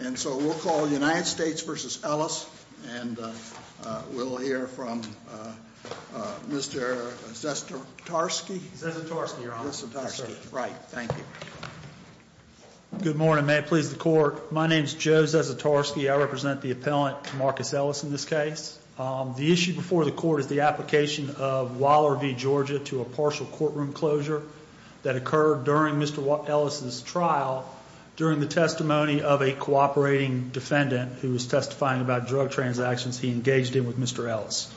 And so we'll call United States v. Ellis, and we'll hear from Mr. Zasztorski. Zasztorski, Your Honor. Zasztorski. Right. Thank you. Good morning. May it please the Court, my name is Joe Zasztorski. I represent the appellant, Tamarcus Ellis, in this case. The issue before the Court is the application of Waller v. Georgia to a partial courtroom closure that occurred during Mr. Ellis' trial during the testimony of a cooperating defendant who was testifying about drug transactions he engaged in with Mr. Ellis.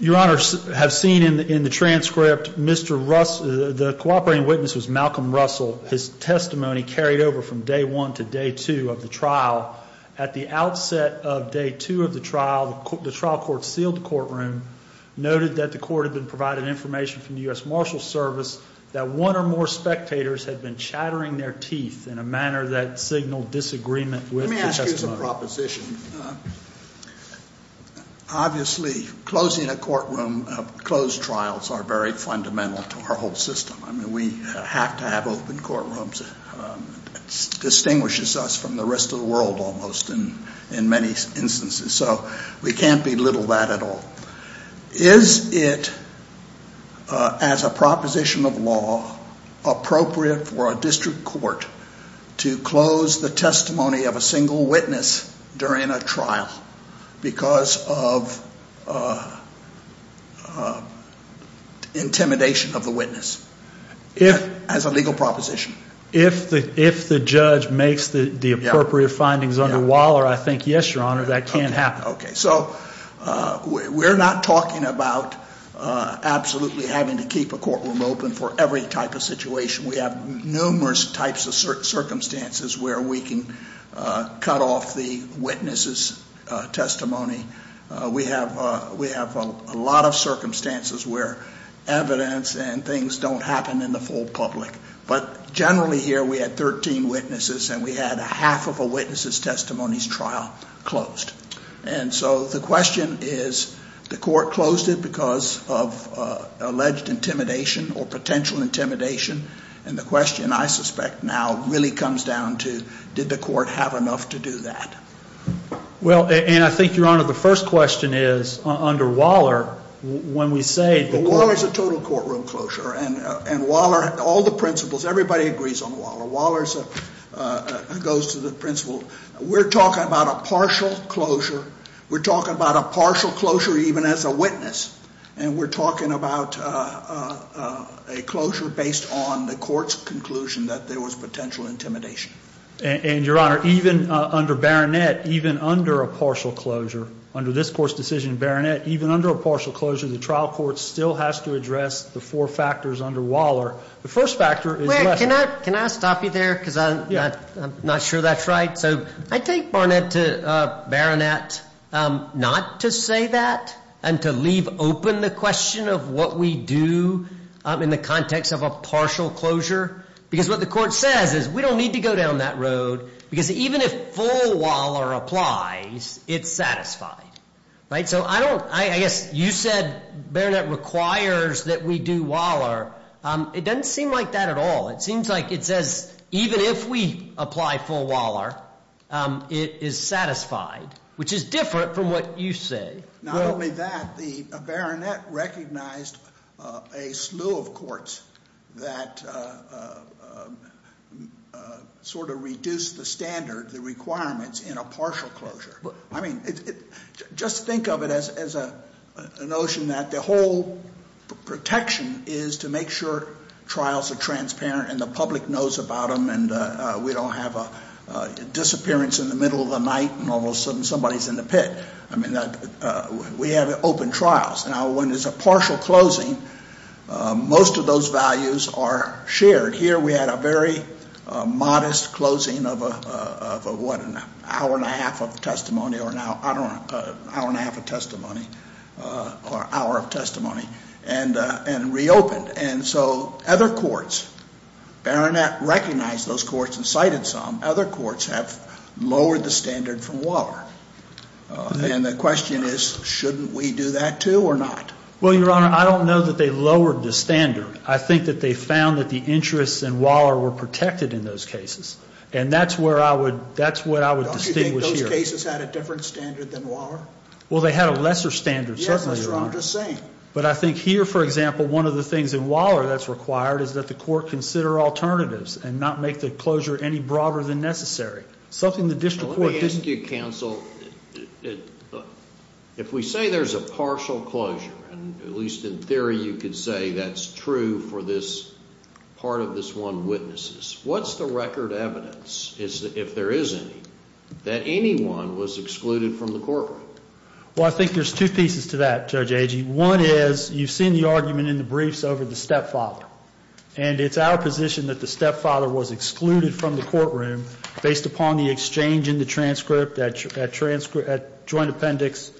Your Honor, as seen in the transcript, the cooperating witness was Malcolm Russell. His testimony carried over from day one to day two of the trial. At the outset of day two of the trial, the trial court sealed the courtroom, noted that the court had been provided information from the U.S. Marshals Service that one or more spectators had been chattering their teeth in a manner that signaled disagreement with the testimony. Let me ask you some proposition. Obviously, closing a courtroom, closed trials are very fundamental to our whole system. I mean, we have to have open courtrooms. It distinguishes us from the rest of the world almost in many instances. So we can't belittle that at all. Is it, as a proposition of law, appropriate for a district court to close the testimony of a single witness during a trial because of intimidation of the witness as a legal proposition? If the judge makes the appropriate findings under Waller, I think yes, Your Honor, that can happen. Okay. So we're not talking about absolutely having to keep a courtroom open for every type of situation. We have numerous types of circumstances where we can cut off the witness's testimony. We have a lot of circumstances where evidence and things don't happen in the full public. But generally here, we had 13 witnesses, and we had half of a witness's testimony's trial closed. And so the question is, the court closed it because of alleged intimidation or potential intimidation, and the question, I suspect, now really comes down to did the court have enough to do that? Well, and I think, Your Honor, the first question is, under Waller, when we say the court ---- and Waller, all the principals, everybody agrees on Waller. Waller goes to the principal. We're talking about a partial closure. We're talking about a partial closure even as a witness, and we're talking about a closure based on the court's conclusion that there was potential intimidation. And, Your Honor, even under Baronet, even under a partial closure, under this court's decision in Baronet, even under a partial closure, the trial court still has to address the four factors under Waller. The first factor is ---- Wait, can I stop you there because I'm not sure that's right? So I take Baronet not to say that and to leave open the question of what we do in the context of a partial closure because what the court says is we don't need to go down that road because even if full Waller applies, it's satisfied. Right? So I don't ---- I guess you said Baronet requires that we do Waller. It doesn't seem like that at all. It seems like it says even if we apply full Waller, it is satisfied, which is different from what you say. Not only that, Baronet recognized a slew of courts that sort of reduced the standard, the requirements, in a partial closure. I mean, just think of it as a notion that the whole protection is to make sure trials are transparent and the public knows about them and we don't have a disappearance in the middle of the night and all of a sudden somebody's in the pit. I mean, we have open trials. Now, when there's a partial closing, most of those values are shared. Here we had a very modest closing of a, what, an hour and a half of testimony or an hour and a half of testimony or hour of testimony and reopened. And so other courts, Baronet recognized those courts and cited some. Other courts have lowered the standard from Waller. And the question is, shouldn't we do that too or not? Well, Your Honor, I don't know that they lowered the standard. I think that they found that the interests in Waller were protected in those cases. And that's where I would, that's what I would distinguish here. Don't you think those cases had a different standard than Waller? Well, they had a lesser standard, certainly, Your Honor. Yes, that's what I'm just saying. But I think here, for example, one of the things in Waller that's required is that the court consider alternatives and not make the closure any broader than necessary, something the district court didn't. Let me ask you, counsel, if we say there's a partial closure, at least in theory you could say that's true for this part of this one witnesses, what's the record evidence, if there is any, that anyone was excluded from the courtroom? Well, I think there's two pieces to that, Judge Agee. One is you've seen the argument in the briefs over the stepfather. And it's our position that the stepfather was excluded from the courtroom based upon the exchange in the transcript at joint appendix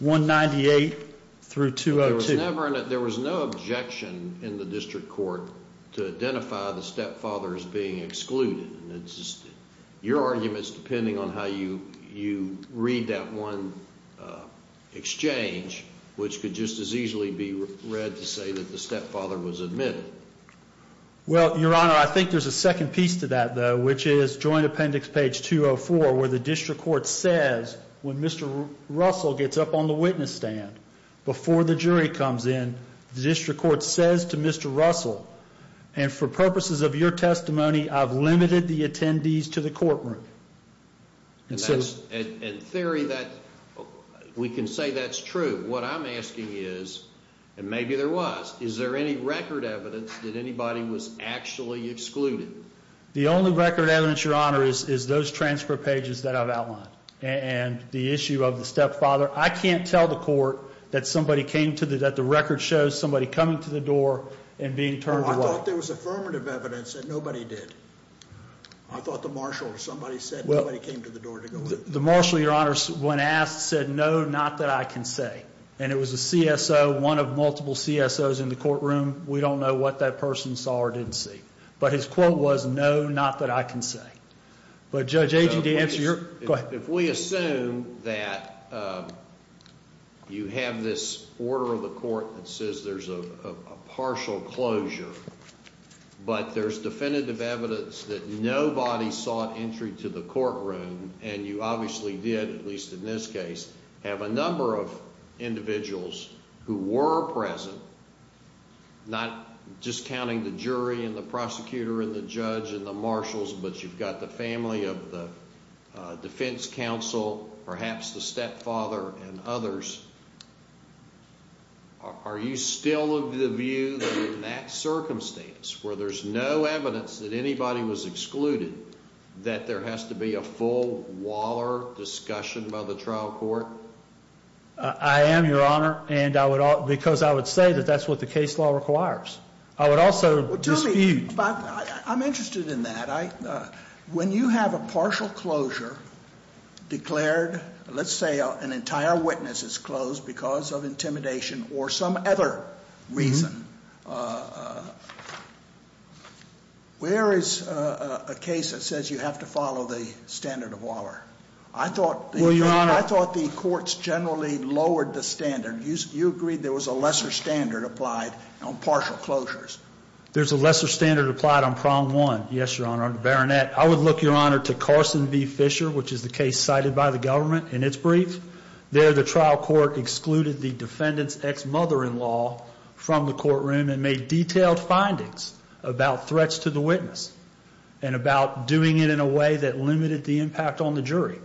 198 through 202. There was no objection in the district court to identify the stepfather as being excluded. It's just your arguments depending on how you read that one exchange, which could just as easily be read to say that the stepfather was admitted. Well, Your Honor, I think there's a second piece to that, though, which is joint appendix page 204 where the district court says when Mr. Russell gets up on the witness stand before the jury comes in, the district court says to Mr. Russell, and for purposes of your testimony, I've limited the attendees to the courtroom. In theory, we can say that's true. What I'm asking is, and maybe there was, is there any record evidence that anybody was actually excluded? The only record evidence, Your Honor, is those transfer pages that I've outlined. And the issue of the stepfather, I can't tell the court that somebody came to the, that the record shows somebody coming to the door and being turned away. Well, I thought there was affirmative evidence that nobody did. I thought the marshal or somebody said nobody came to the door to go in. The marshal, Your Honor, when asked, said no, not that I can say. And it was a CSO, one of multiple CSOs in the courtroom. We don't know what that person saw or didn't see. But his quote was, no, not that I can say. But Judge Agee, to answer your, go ahead. If we assume that you have this order of the court that says there's a partial closure, but there's definitive evidence that nobody sought entry to the courtroom, and you obviously did, at least in this case, have a number of individuals who were present, not just counting the jury and the prosecutor and the judge and the marshals, but you've got the family of the defense counsel, perhaps the stepfather and others. Are you still of the view that in that circumstance, where there's no evidence that anybody was excluded, that there has to be a full Waller discussion by the trial court? I am, Your Honor, because I would say that that's what the case law requires. I would also dispute. I'm interested in that. When you have a partial closure declared, let's say an entire witness is closed because of intimidation or some other reason, where is a case that says you have to follow the standard of Waller? I thought the courts generally lowered the standard. You agreed there was a lesser standard applied on partial closures. There's a lesser standard applied on prong one. Yes, Your Honor, on the baronet. I would look, Your Honor, to Carson v. Fisher, which is the case cited by the government in its brief. There the trial court excluded the defendant's ex-mother-in-law from the courtroom and made detailed findings about threats to the witness and about doing it in a way that limited the impact on the jury.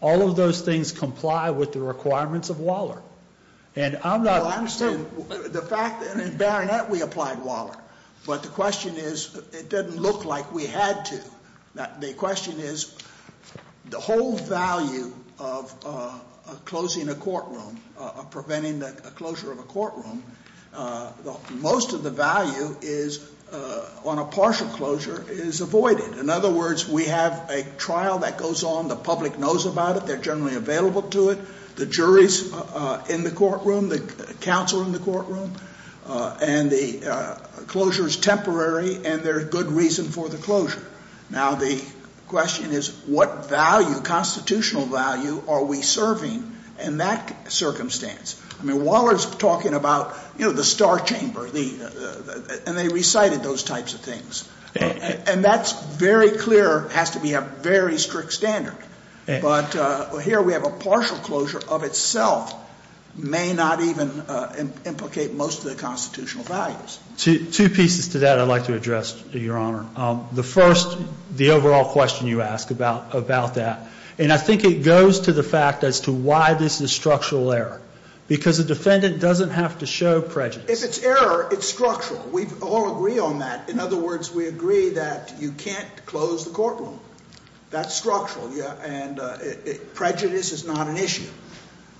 All of those things comply with the requirements of Waller. Well, I understand the fact that in baronet we applied Waller, but the question is it didn't look like we had to. The question is the whole value of closing a courtroom, of preventing the closure of a courtroom, most of the value on a partial closure is avoided. In other words, we have a trial that goes on. The public knows about it. They're generally available to it. The jury's in the courtroom, the counsel in the courtroom, and the closure is temporary, and there's good reason for the closure. Now the question is what value, constitutional value, are we serving in that circumstance? I mean, Waller's talking about, you know, the star chamber, and they recited those types of things. And that's very clear, has to be a very strict standard. But here we have a partial closure of itself, may not even implicate most of the constitutional values. Two pieces to that I'd like to address, Your Honor. The first, the overall question you ask about that, and I think it goes to the fact as to why this is structural error. Because the defendant doesn't have to show prejudice. If it's error, it's structural. We all agree on that. In other words, we agree that you can't close the courtroom. That's structural. And prejudice is not an issue.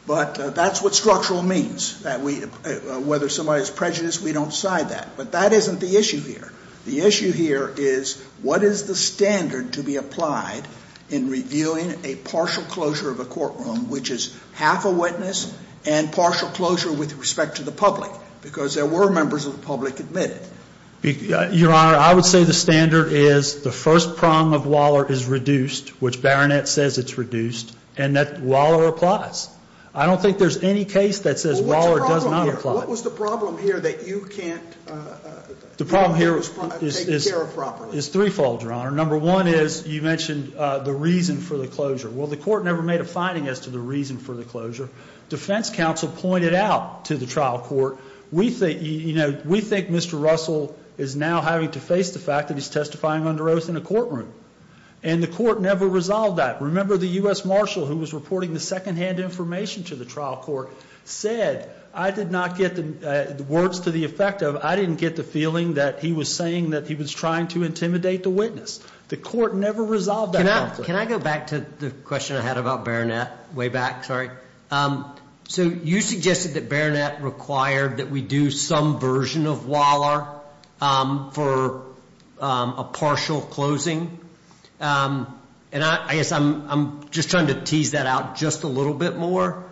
But that's what structural means, whether somebody's prejudiced, we don't decide that. But that isn't the issue here. The issue here is what is the standard to be applied in reviewing a partial closure of a courtroom, which is half a witness and partial closure with respect to the public? Because there were members of the public admitted. Your Honor, I would say the standard is the first prong of Waller is reduced, which Baronet says it's reduced, and that Waller applies. I don't think there's any case that says Waller does not apply. What was the problem here that you can't? The problem here is threefold, Your Honor. Number one is you mentioned the reason for the closure. Well, the court never made a finding as to the reason for the closure. Defense counsel pointed out to the trial court, we think Mr. Russell is now having to face the fact that he's testifying under oath in a courtroom. And the court never resolved that. Remember the U.S. marshal who was reporting the secondhand information to the trial court said, I did not get the words to the effect of, I didn't get the feeling that he was saying that he was trying to intimidate the witness. The court never resolved that conflict. Can I go back to the question I had about Baronet way back? Sorry. So you suggested that Baronet required that we do some version of Waller for a partial closing. And I guess I'm just trying to tease that out just a little bit more.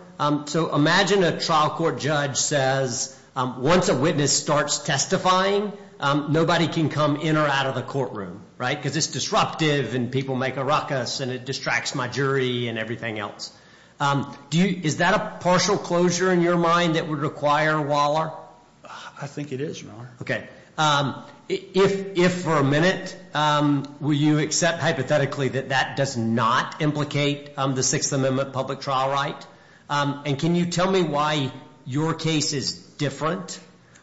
So imagine a trial court judge says once a witness starts testifying, nobody can come in or out of the courtroom, right, because it's disruptive and people make a ruckus and it distracts my jury and everything else. Is that a partial closure in your mind that would require Waller? I think it is, Your Honor. Okay. If for a minute, will you accept hypothetically that that does not implicate the Sixth Amendment public trial right? And can you tell me why your case is different?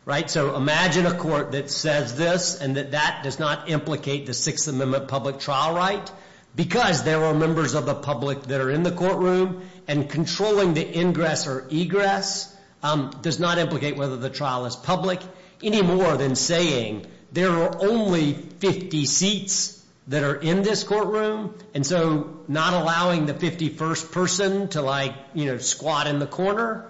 Right. So imagine a court that says this and that that does not implicate the Sixth Amendment public trial right, because there are members of the public that are in the courtroom and controlling the ingress or egress does not implicate whether the trial is public, any more than saying there are only 50 seats that are in this courtroom. And so not allowing the 51st person to like, you know, squat in the corner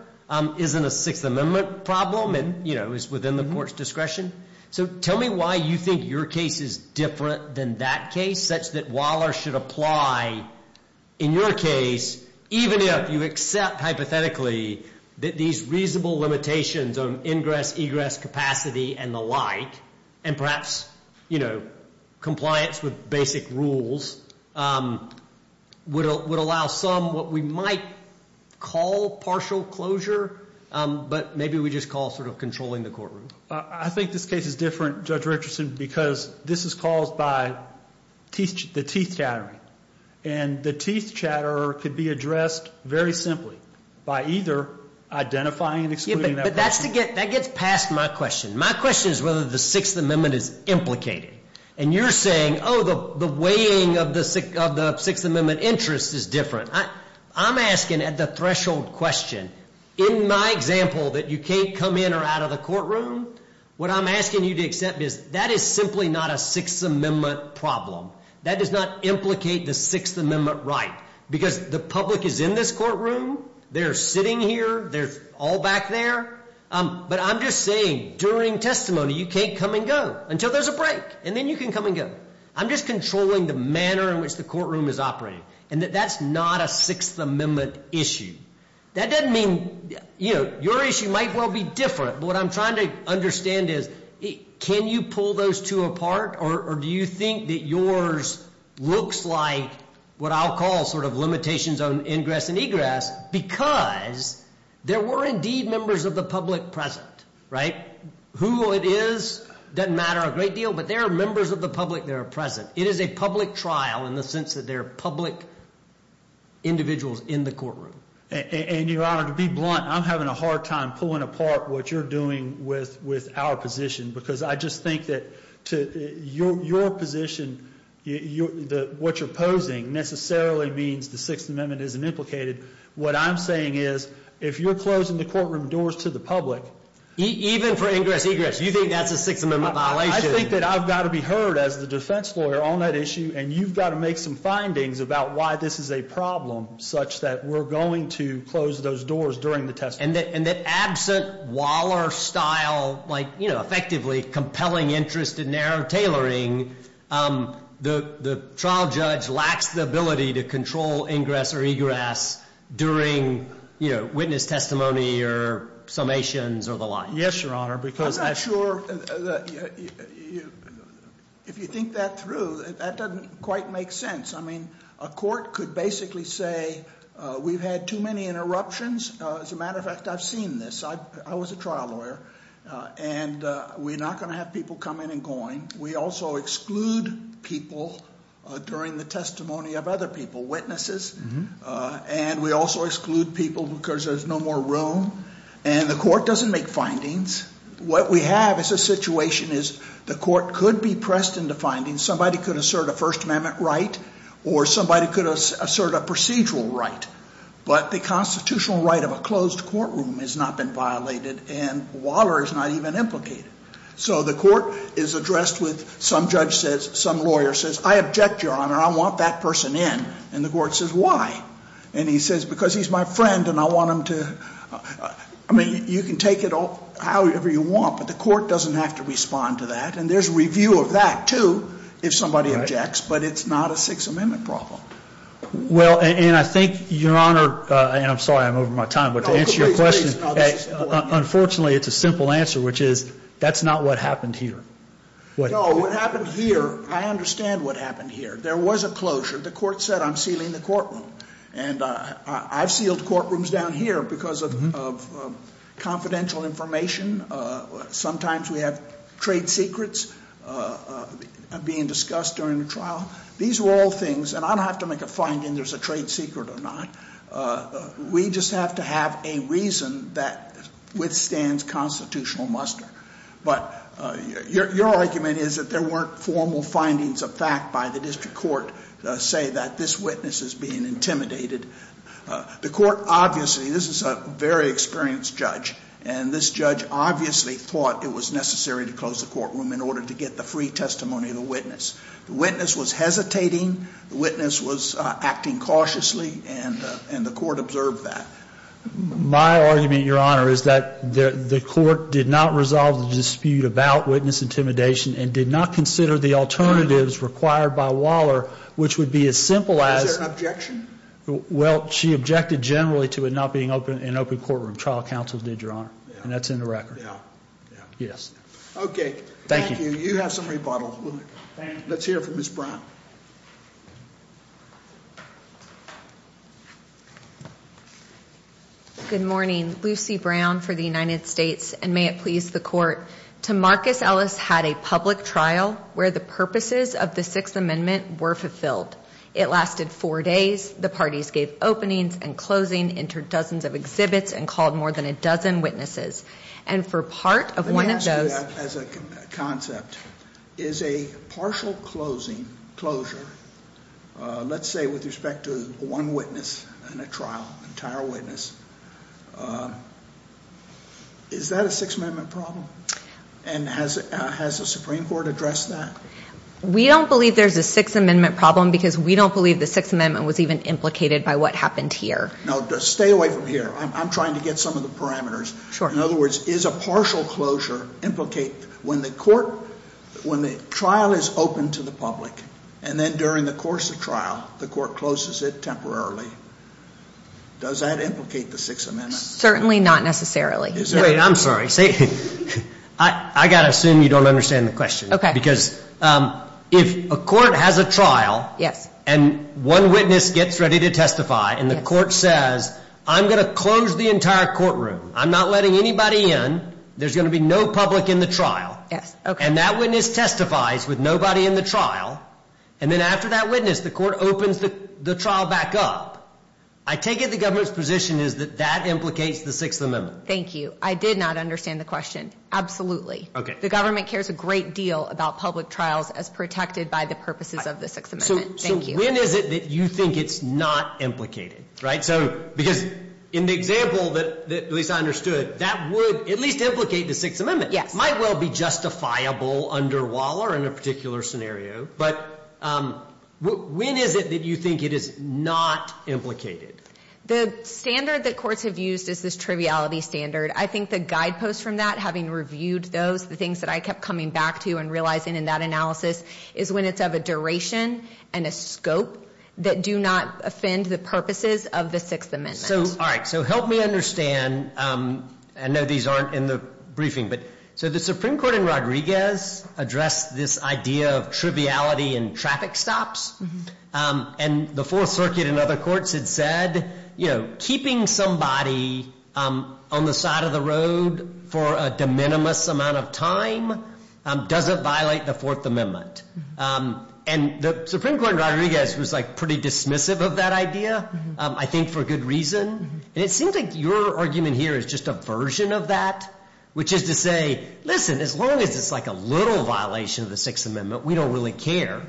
isn't a Sixth Amendment problem and, you know, is within the court's discretion. So tell me why you think your case is different than that case, such that Waller should apply in your case, even if you accept hypothetically that these reasonable limitations on ingress, egress, capacity, and the like, and perhaps, you know, compliance with basic rules, would allow some what we might call partial closure, but maybe we just call sort of controlling the courtroom. I think this case is different, Judge Richardson, because this is caused by the teeth chattering. And the teeth chatter could be addressed very simply by either identifying and excluding that person. But that gets past my question. My question is whether the Sixth Amendment is implicated. And you're saying, oh, the weighing of the Sixth Amendment interest is different. I'm asking at the threshold question, in my example that you can't come in or out of the courtroom, what I'm asking you to accept is that is simply not a Sixth Amendment problem. That does not implicate the Sixth Amendment right, because the public is in this courtroom. They're sitting here. They're all back there. But I'm just saying during testimony, you can't come and go until there's a break, and then you can come and go. I'm just controlling the manner in which the courtroom is operating, and that that's not a Sixth Amendment issue. That doesn't mean, you know, your issue might well be different. But what I'm trying to understand is, can you pull those two apart, or do you think that yours looks like what I'll call sort of limitations on ingress and egress, because there were indeed members of the public present, right? Who it is doesn't matter a great deal, but there are members of the public that are present. It is a public trial in the sense that there are public individuals in the courtroom. And, Your Honor, to be blunt, I'm having a hard time pulling apart what you're doing with our position because I just think that to your position, what you're posing necessarily means the Sixth Amendment isn't implicated. What I'm saying is if you're closing the courtroom doors to the public. Even for ingress, egress, you think that's a Sixth Amendment violation? I think that I've got to be heard as the defense lawyer on that issue, and you've got to make some findings about why this is a problem such that we're going to close those doors during the testimony. And that absent Waller-style, like, you know, effectively compelling interest and narrow tailoring, the trial judge lacks the ability to control ingress or egress during, you know, witness testimony or summations or the like. Yes, Your Honor, because- I'm not sure if you think that through, that doesn't quite make sense. I mean, a court could basically say we've had too many interruptions. As a matter of fact, I've seen this. I was a trial lawyer, and we're not going to have people come in and going. We also exclude people during the testimony of other people, witnesses. And we also exclude people because there's no more room, and the court doesn't make findings. What we have is a situation is the court could be pressed into findings. Somebody could assert a First Amendment right, or somebody could assert a procedural right. But the constitutional right of a closed courtroom has not been violated, and Waller is not even implicated. So the court is addressed with, some judge says, some lawyer says, I object, Your Honor. I want that person in. And the court says, why? And he says, because he's my friend, and I want him to. I mean, you can take it however you want, but the court doesn't have to respond to that. And there's review of that, too, if somebody objects. But it's not a Sixth Amendment problem. Well, and I think, Your Honor, and I'm sorry I'm over my time, but to answer your question- No, please, please. Unfortunately, it's a simple answer, which is, that's not what happened here. No, what happened here, I understand what happened here. There was a closure. The court said, I'm sealing the courtroom. And I've sealed courtrooms down here because of confidential information. Sometimes we have trade secrets being discussed during the trial. These are all things, and I don't have to make a finding there's a trade secret or not. We just have to have a reason that withstands constitutional muster. But your argument is that there weren't formal findings of fact by the district court to say that this witness is being intimidated. The court obviously, this is a very experienced judge, and this judge obviously thought it was necessary to close the courtroom in order to get the free testimony of the witness. The witness was hesitating. The witness was acting cautiously, and the court observed that. My argument, Your Honor, is that the court did not resolve the dispute about witness intimidation and did not consider the alternatives required by Waller, which would be as simple as- Is there an objection? Well, she objected generally to it not being an open courtroom. Trial counsel did, Your Honor, and that's in the record. Yeah, yeah. Yes. Okay. Thank you. You have some rebuttal. Let's hear from Ms. Brown. Good morning. Lucy Brown for the United States, and may it please the court. Tamarcus Ellis had a public trial where the purposes of the Sixth Amendment were fulfilled. It lasted four days. The parties gave openings and closing, entered dozens of exhibits, and called more than a dozen witnesses. And for part of one of those- I see that as a concept. Is a partial closing, closure, let's say with respect to one witness in a trial, entire witness, is that a Sixth Amendment problem? And has the Supreme Court addressed that? We don't believe there's a Sixth Amendment problem because we don't believe the Sixth Amendment was even implicated by what happened here. Now, stay away from here. I'm trying to get some of the parameters. Sure. In other words, is a partial closure implicate when the trial is open to the public, and then during the course of trial the court closes it temporarily, does that implicate the Sixth Amendment? Certainly not necessarily. Wait, I'm sorry. I've got to assume you don't understand the question. Okay. Because if a court has a trial- Yes. And one witness gets ready to testify, and the court says, I'm going to close the entire courtroom. I'm not letting anybody in. There's going to be no public in the trial. Yes, okay. And that witness testifies with nobody in the trial, and then after that witness the court opens the trial back up. I take it the government's position is that that implicates the Sixth Amendment. Thank you. I did not understand the question. Absolutely. Okay. The government cares a great deal about public trials as protected by the purposes of the Sixth Amendment. Thank you. So when is it that you think it's not implicated, right? Because in the example that Lisa understood, that would at least implicate the Sixth Amendment. Yes. It might well be justifiable under Waller in a particular scenario, but when is it that you think it is not implicated? The standard that courts have used is this triviality standard. I think the guideposts from that, having reviewed those, the things that I kept coming back to and realizing in that analysis, is when it's of a duration and a scope that do not offend the purposes of the Sixth Amendment. All right. So help me understand. I know these aren't in the briefing, but so the Supreme Court in Rodriguez addressed this idea of triviality in traffic stops, and the Fourth Circuit and other courts had said, you know, And the Supreme Court in Rodriguez was like pretty dismissive of that idea, I think for good reason. And it seems like your argument here is just a version of that, which is to say, listen, as long as it's like a little violation of the Sixth Amendment, we don't really care.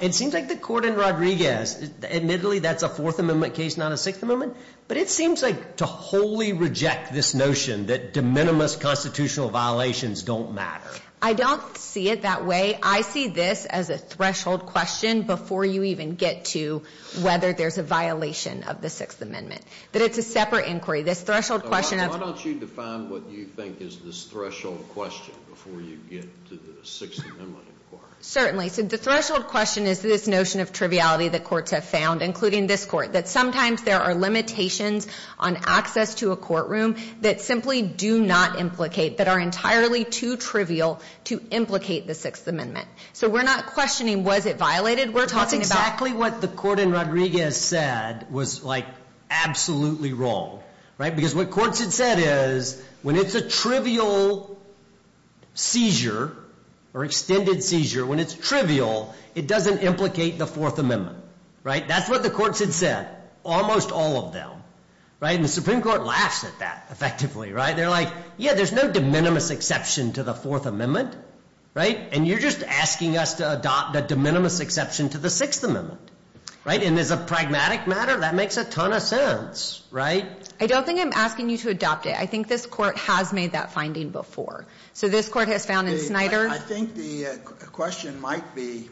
It seems like the court in Rodriguez, admittedly, that's a Fourth Amendment case, not a Sixth Amendment, but it seems like to wholly reject this notion that de minimis constitutional violations don't matter. I don't see it that way. I see this as a threshold question before you even get to whether there's a violation of the Sixth Amendment, that it's a separate inquiry. This threshold question of Why don't you define what you think is this threshold question before you get to the Sixth Amendment inquiry? Certainly. So the threshold question is this notion of triviality that courts have found, including this court, that sometimes there are limitations on access to a courtroom that simply do not implicate, that are entirely too trivial to implicate the Sixth Amendment. So we're not questioning was it violated. We're talking about exactly what the court in Rodriguez said was like absolutely wrong. Right. Because what courts had said is when it's a trivial seizure or extended seizure, when it's trivial, it doesn't implicate the Fourth Amendment. Right. That's what the courts had said. Almost all of them. Right. And the Supreme Court laughs at that effectively. Right. They're like, yeah, there's no de minimis exception to the Fourth Amendment. Right. And you're just asking us to adopt a de minimis exception to the Sixth Amendment. Right. And as a pragmatic matter, that makes a ton of sense. Right. I don't think I'm asking you to adopt it. I think this court has made that finding before. So this court has found in Snyder. I think the question might be,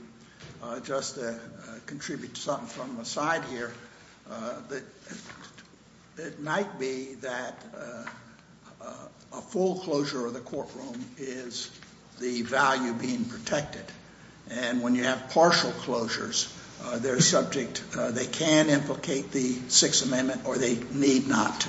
just to contribute something from the side here, that it might be that a full closure of the courtroom is the value being protected. And when you have partial closures, they're subject, they can implicate the Sixth Amendment or they need not.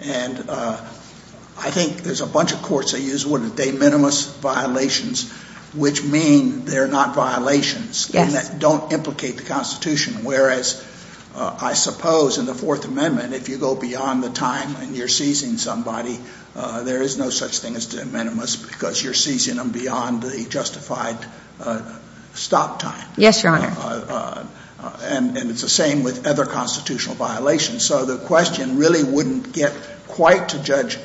And I think there's a bunch of courts that use the word de minimis violations, which mean they're not violations. Yes. And that don't implicate the Constitution. Whereas, I suppose in the Fourth Amendment, if you go beyond the time and you're seizing somebody, there is no such thing as de minimis because you're seizing them beyond the justified stop time. Yes, Your Honor. And it's the same with other constitutional violations. So the question really wouldn't get quite to Judge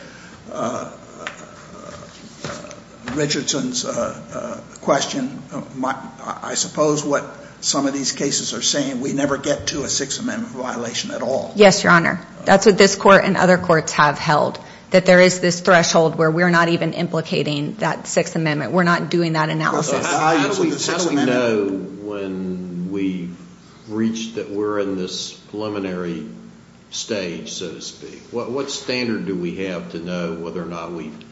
Richardson's question. I suppose what some of these cases are saying, we never get to a Sixth Amendment violation at all. Yes, Your Honor. That's what this court and other courts have held, that there is this threshold where we're not even implicating that Sixth Amendment. We're not doing that analysis. How do we know when we reach that we're in this preliminary stage, so to speak? What standard do we have to know whether or not we've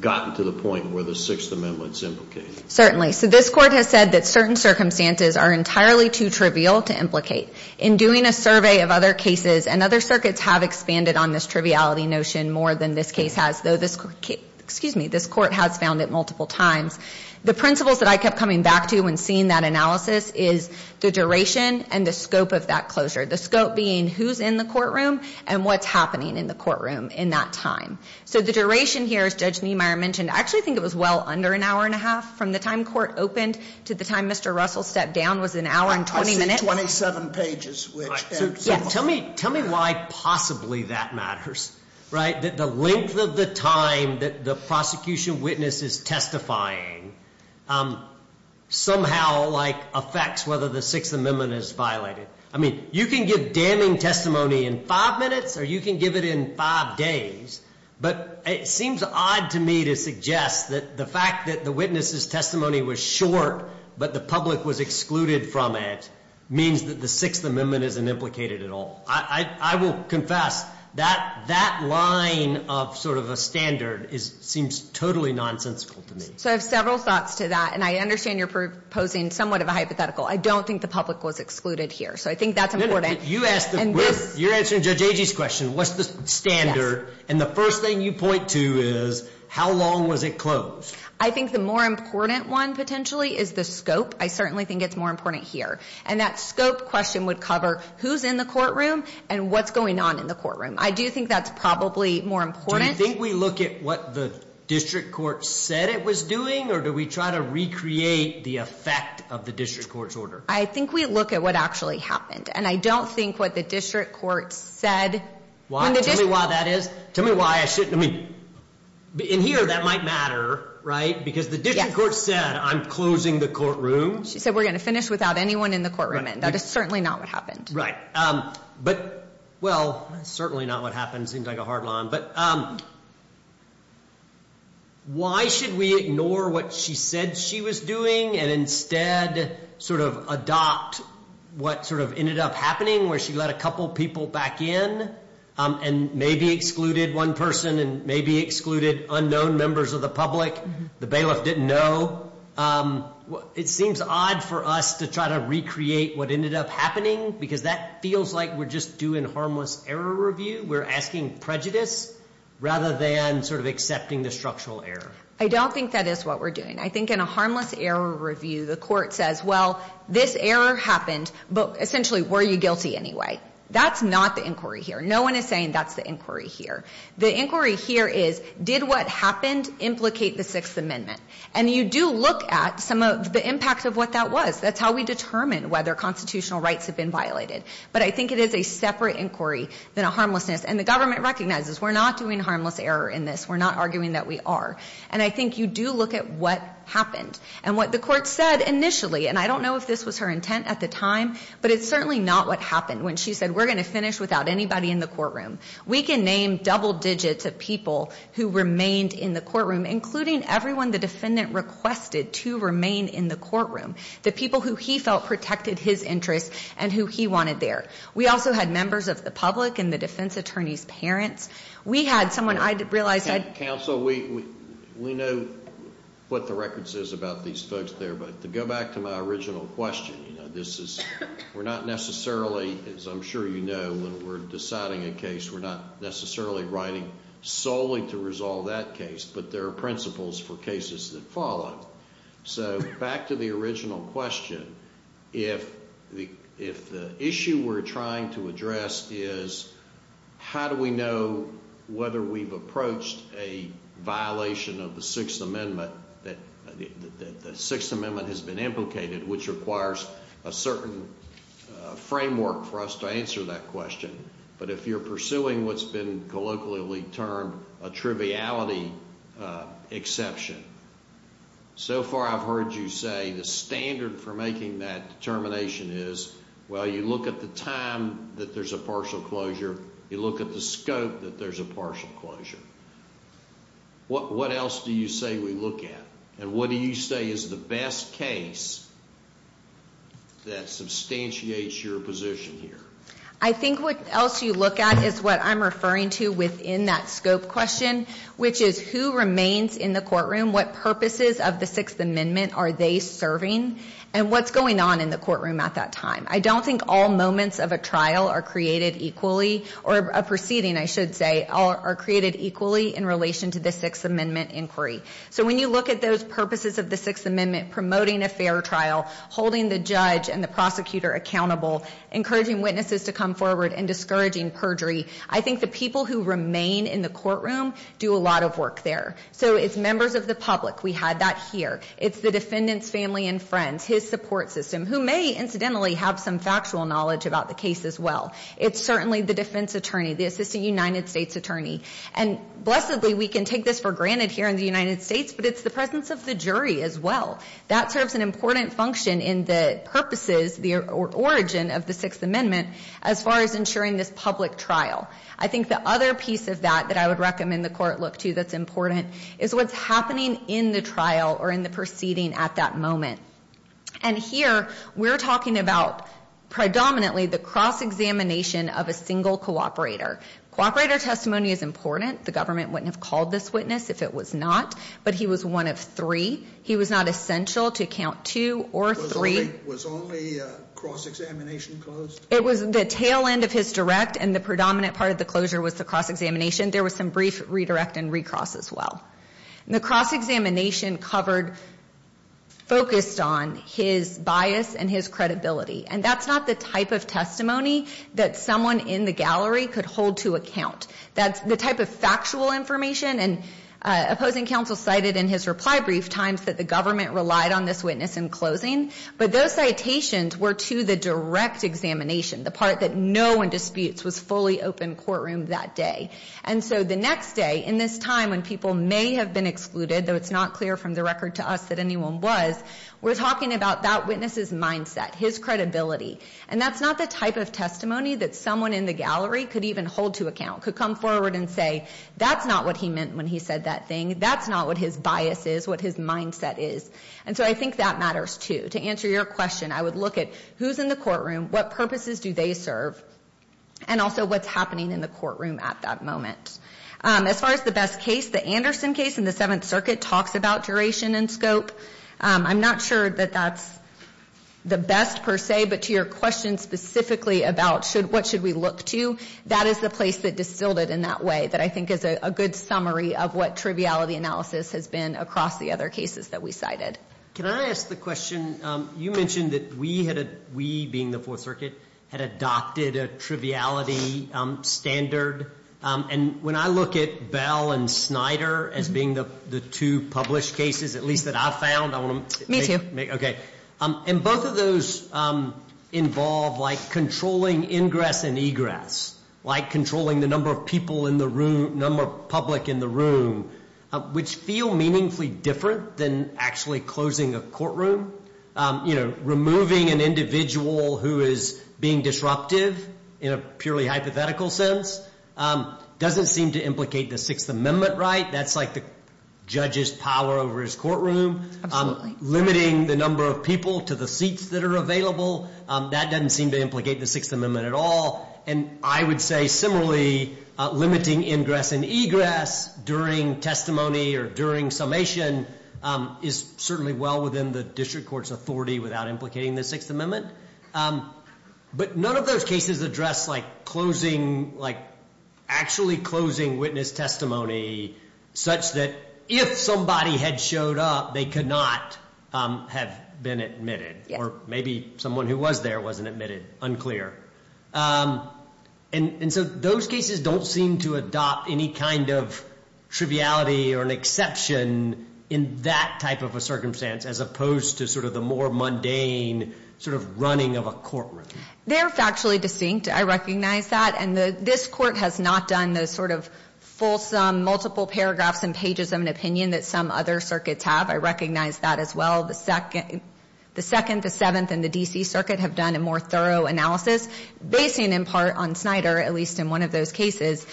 gotten to the point where the Sixth Amendment's implicated? Certainly. So this court has said that certain circumstances are entirely too trivial to implicate. In doing a survey of other cases, and other circuits have expanded on this triviality notion more than this case has, though this court has found it multiple times, the principles that I kept coming back to when seeing that analysis is the duration and the scope of that closure, the scope being who's in the courtroom and what's happening in the courtroom in that time. So the duration here, as Judge Niemeyer mentioned, I actually think it was well under an hour and a half from the time court opened to the time Mr. Russell stepped down was an hour and 20 minutes. I see 27 pages. Tell me why possibly that matters. The length of the time that the prosecution witness is testifying somehow affects whether the Sixth Amendment is violated. I mean, you can give damning testimony in five minutes or you can give it in five days, but it seems odd to me to suggest that the fact that the witness's testimony was short but the public was excluded from it means that the Sixth Amendment isn't implicated at all. I will confess that that line of sort of a standard seems totally nonsensical to me. So I have several thoughts to that, and I understand you're proposing somewhat of a hypothetical. I don't think the public was excluded here, so I think that's important. You're answering Judge Agee's question, what's the standard? And the first thing you point to is how long was it closed? I think the more important one potentially is the scope. I certainly think it's more important here. And that scope question would cover who's in the courtroom and what's going on in the courtroom. I do think that's probably more important. Do you think we look at what the district court said it was doing, or do we try to recreate the effect of the district court's order? I think we look at what actually happened, and I don't think what the district court said. Why? Tell me why that is. Tell me why I shouldn't. I mean, in here that might matter, right, because the district court said I'm closing the courtroom. She said we're going to finish without anyone in the courtroom, and that is certainly not what happened. But, well, that's certainly not what happened. It seems like a hard line. But why should we ignore what she said she was doing and instead sort of adopt what sort of ended up happening where she let a couple people back in and maybe excluded one person and maybe excluded unknown members of the public the bailiff didn't know? It seems odd for us to try to recreate what ended up happening, because that feels like we're just doing harmless error review. We're asking prejudice rather than sort of accepting the structural error. I don't think that is what we're doing. I think in a harmless error review, the court says, well, this error happened, but essentially were you guilty anyway? That's not the inquiry here. No one is saying that's the inquiry here. The inquiry here is did what happened implicate the Sixth Amendment? And you do look at some of the impact of what that was. That's how we determine whether constitutional rights have been violated. But I think it is a separate inquiry than a harmlessness. And the government recognizes we're not doing harmless error in this. We're not arguing that we are. And I think you do look at what happened. And what the court said initially, and I don't know if this was her intent at the time, but it's certainly not what happened when she said we're going to finish without anybody in the courtroom. We can name double digits of people who remained in the courtroom, including everyone the defendant requested to remain in the courtroom, the people who he felt protected his interests and who he wanted there. We also had members of the public and the defense attorney's parents. We had someone I realized had ---- Counsel, we know what the record says about these folks there. But to go back to my original question, you know, this is we're not necessarily, as I'm sure you know, when we're deciding a case, we're not necessarily writing solely to resolve that case. But there are principles for cases that follow. So back to the original question, if the issue we're trying to address is how do we know whether we've approached a violation of the Sixth Amendment that the Sixth Amendment has been implicated, which requires a certain framework for us to answer that question. But if you're pursuing what's been colloquially termed a triviality exception, so far I've heard you say the standard for making that determination is, well, you look at the time that there's a partial closure, you look at the scope that there's a partial closure. What else do you say we look at? And what do you say is the best case that substantiates your position here? I think what else you look at is what I'm referring to within that scope question, which is who remains in the courtroom, what purposes of the Sixth Amendment are they serving, and what's going on in the courtroom at that time. I don't think all moments of a trial are created equally, or a proceeding, I should say, are created equally in relation to the Sixth Amendment inquiry. So when you look at those purposes of the Sixth Amendment, promoting a fair trial, holding the judge and the prosecutor accountable, encouraging witnesses to come forward, and discouraging perjury, I think the people who remain in the courtroom do a lot of work there. So it's members of the public. We had that here. It's the defendant's family and friends, his support system, who may incidentally have some factual knowledge about the case as well. It's certainly the defense attorney, the assistant United States attorney. And, blessedly, we can take this for granted here in the United States, but it's the presence of the jury as well. That serves an important function in the purposes, the origin of the Sixth Amendment, as far as ensuring this public trial. I think the other piece of that that I would recommend the court look to that's important is what's happening in the trial or in the proceeding at that moment. And here, we're talking about predominantly the cross-examination of a single cooperator. Cooperator testimony is important. The government wouldn't have called this witness if it was not, but he was one of three. He was not essential to count two or three. Was only cross-examination closed? It was the tail end of his direct, and the predominant part of the closure was the cross-examination. There was some brief redirect and recross as well. The cross-examination covered, focused on, his bias and his credibility. And that's not the type of testimony that someone in the gallery could hold to account. That's the type of factual information. And opposing counsel cited in his reply brief times that the government relied on this witness in closing. But those citations were to the direct examination, the part that no one disputes, was fully open courtroom that day. And so the next day, in this time when people may have been excluded, though it's not clear from the record to us that anyone was, we're talking about that witness's mindset, his credibility. And that's not the type of testimony that someone in the gallery could even hold to account. Could come forward and say, that's not what he meant when he said that thing. That's not what his bias is, what his mindset is. And so I think that matters too. To answer your question, I would look at who's in the courtroom, what purposes do they serve, and also what's happening in the courtroom at that moment. As far as the best case, the Anderson case in the Seventh Circuit talks about duration and scope. I'm not sure that that's the best per se, but to your question specifically about what should we look to, that is the place that distilled it in that way, that I think is a good summary of what triviality analysis has been across the other cases that we cited. Can I ask the question? You mentioned that we had, we being the Fourth Circuit, had adopted a triviality standard. And when I look at Bell and Snyder as being the two published cases, at least that I've found, I want to- Me too. Okay. And both of those involve like controlling ingress and egress, like controlling the number of people in the room, number of public in the room, which feel meaningfully different than actually closing a courtroom. Removing an individual who is being disruptive in a purely hypothetical sense doesn't seem to implicate the Sixth Amendment right. That's like the judge's power over his courtroom. Limiting the number of people to the seats that are available, that doesn't seem to implicate the Sixth Amendment at all. And I would say similarly, limiting ingress and egress during testimony or during summation is certainly well within the district court's authority without implicating the Sixth Amendment. But none of those cases address like closing, like actually closing witness testimony such that if somebody had showed up, they could not have been admitted. Or maybe someone who was there wasn't admitted. Unclear. And so those cases don't seem to adopt any kind of triviality or an exception in that type of a circumstance as opposed to sort of the more mundane sort of running of a courtroom. They're factually distinct. I recognize that. And this court has not done the sort of fulsome multiple paragraphs and pages of an opinion that some other circuits have. I recognize that as well. The Second, the Seventh, and the D.C. Circuit have done a more thorough analysis basing in part on Snyder, at least in one of those cases.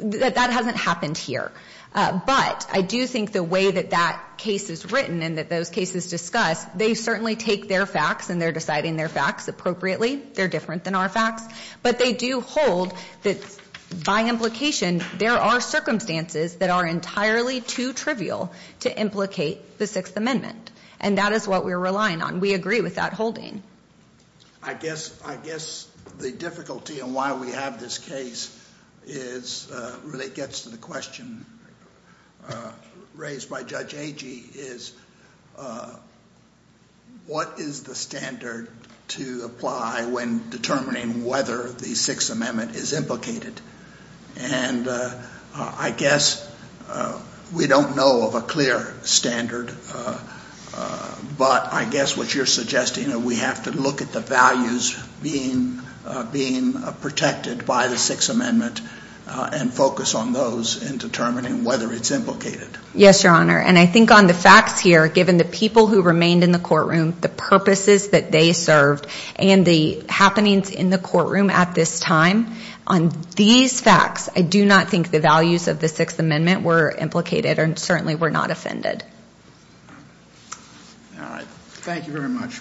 That hasn't happened here. But I do think the way that that case is written and that those cases discuss, they certainly take their facts and they're deciding their facts appropriately. They're different than our facts. But they do hold that by implication, there are circumstances that are entirely too trivial to implicate the Sixth Amendment. And that is what we're relying on. We agree with that holding. I guess the difficulty in why we have this case is, really gets to the question raised by Judge Agee, is what is the standard to apply when determining whether the Sixth Amendment is implicated? And I guess we don't know of a clear standard, but I guess what you're suggesting that we have to look at the values being protected by the Sixth Amendment and focus on those in determining whether it's implicated. Yes, Your Honor. And I think on the facts here, given the people who remained in the courtroom, the purposes that they served, and the happenings in the courtroom at this time, on these facts, I do not think the values of the Sixth Amendment were implicated and certainly were not offended. All right. Thank you very much.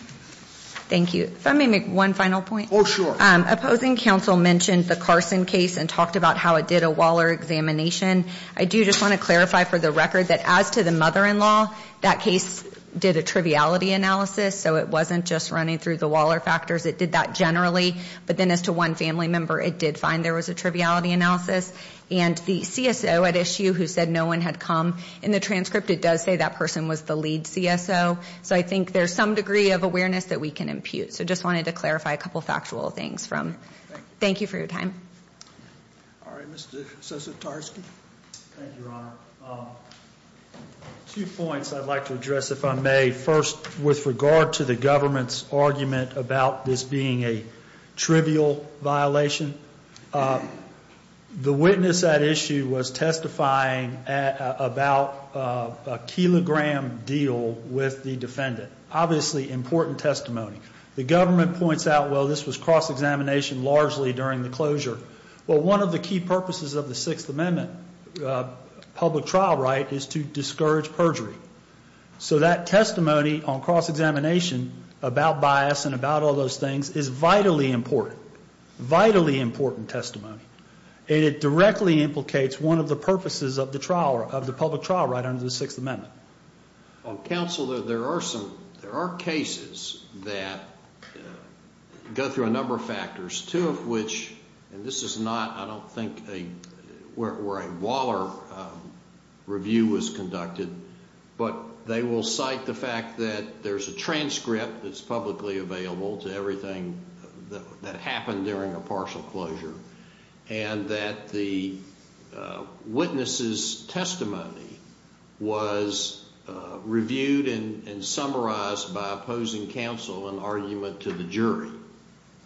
Thank you. If I may make one final point. Oh, sure. Opposing counsel mentioned the Carson case and talked about how it did a Waller examination. I do just want to clarify for the record that as to the mother-in-law, that case did a triviality analysis, so it wasn't just running through the Waller factors. It did that generally, but then as to one family member, it did find there was a triviality analysis. And the CSO at issue who said no one had come in the transcript, it does say that person was the lead CSO. So I think there's some degree of awareness that we can impute. So I just wanted to clarify a couple of factual things from. Thank you for your time. All right. Mr. Sosatarski. Thank you, Your Honor. Two points I'd like to address, if I may. First, with regard to the government's argument about this being a trivial violation, the witness at issue was testifying about a kilogram deal with the defendant. Obviously, important testimony. The government points out, well, this was cross-examination largely during the closure. Well, one of the key purposes of the Sixth Amendment public trial right is to discourage perjury. So that testimony on cross-examination about bias and about all those things is vitally important. Vitally important testimony. And it directly implicates one of the purposes of the trial, of the public trial right under the Sixth Amendment. Counsel, there are some, there are cases that go through a number of factors, two of which, and this is not, I don't think, where a Waller review was conducted, but they will cite the fact that there's a transcript that's publicly available to everything that happened during a partial closure and that the witness's testimony was reviewed and summarized by opposing counsel in argument to the jury.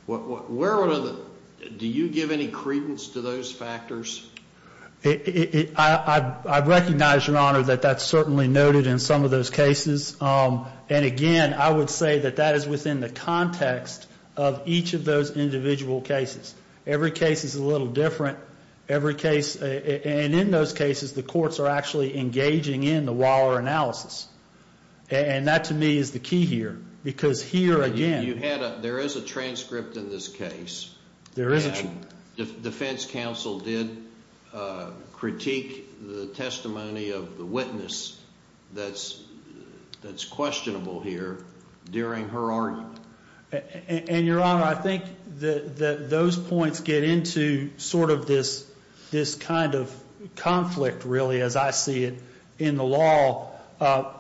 Where are the, do you give any credence to those factors? I recognize, Your Honor, that that's certainly noted in some of those cases. And again, I would say that that is within the context of each of those individual cases. Every case is a little different. Every case, and in those cases, the courts are actually engaging in the Waller analysis. And that, to me, is the key here. Because here, again. You had a, there is a transcript in this case. There is a transcript. And defense counsel did critique the testimony of the witness that's questionable here during her argument. And, Your Honor, I think that those points get into sort of this kind of conflict, really, as I see it, in the law.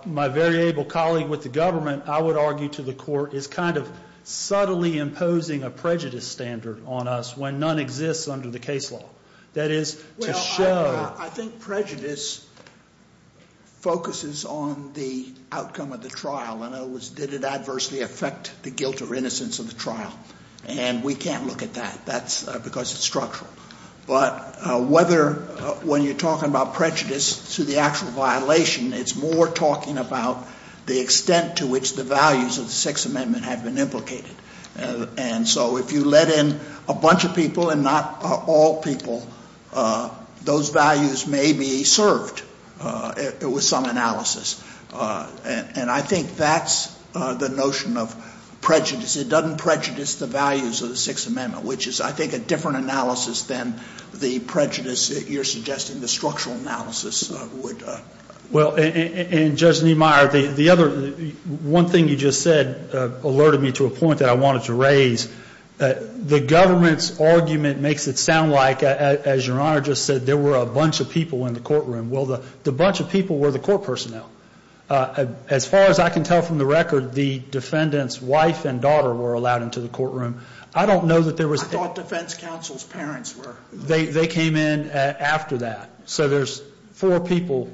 My very able colleague with the government, I would argue, to the court, is kind of subtly imposing a prejudice standard on us when none exists under the case law. That is to show. Well, I think prejudice focuses on the outcome of the trial. And it was, did it adversely affect the guilt or innocence of the trial? And we can't look at that. That's because it's structural. But whether, when you're talking about prejudice to the actual violation, it's more talking about the extent to which the values of the Sixth Amendment have been implicated. And so if you let in a bunch of people and not all people, those values may be served with some analysis. And I think that's the notion of prejudice. It doesn't prejudice the values of the Sixth Amendment, which is, I think, a different analysis than the prejudice that you're suggesting, the structural analysis would. Well, and, Judge Niemeyer, the other, one thing you just said alerted me to a point that I wanted to raise. The government's argument makes it sound like, as Your Honor just said, there were a bunch of people in the courtroom. Well, the bunch of people were the court personnel. As far as I can tell from the record, the defendant's wife and daughter were allowed into the courtroom. I don't know that there was. I thought defense counsel's parents were. They came in after that. So there's four people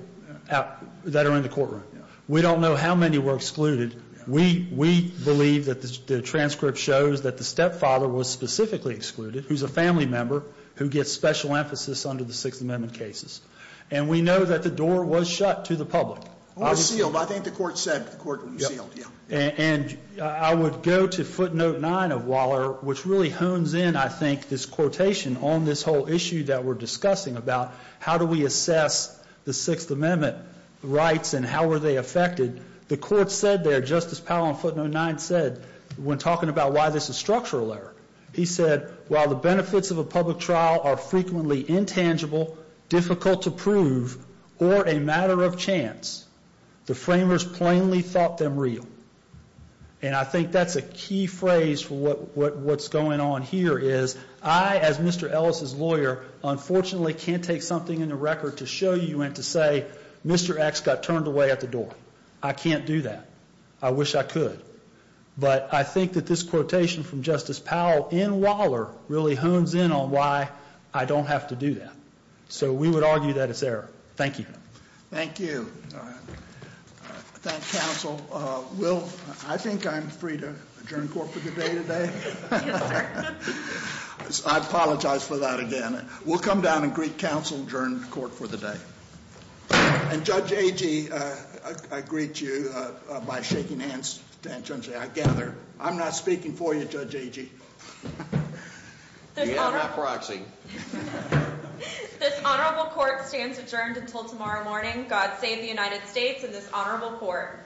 that are in the courtroom. We don't know how many were excluded. We believe that the transcript shows that the stepfather was specifically excluded, who's a family member who gets special emphasis under the Sixth Amendment cases. And we know that the door was shut to the public. I think the court said the court was sealed. And I would go to footnote nine of Waller, which really hones in, I think, this quotation on this whole issue that we're discussing about how do we assess the Sixth Amendment rights and how were they affected. The court said there, Justice Powell, in footnote nine said, when talking about why this is structural error, he said, while the benefits of a public trial are frequently intangible, difficult to prove, or a matter of chance, the framers plainly thought them real. And I think that's a key phrase for what's going on here is I, as Mr. Ellis' lawyer, unfortunately can't take something in the record to show you and to say Mr. X got turned away at the door. I can't do that. I wish I could. But I think that this quotation from Justice Powell in Waller really hones in on why I don't have to do that. So we would argue that it's error. Thank you. Thank you. Thank counsel. Will, I think I'm free to adjourn court for the day today. Yes, sir. I apologize for that again. We'll come down and greet counsel, adjourn court for the day. And Judge Agee, I greet you by shaking hands. I gather I'm not speaking for you, Judge Agee. We are not proxying. This honorable court stands adjourned until tomorrow morning. God save the United States and this honorable court.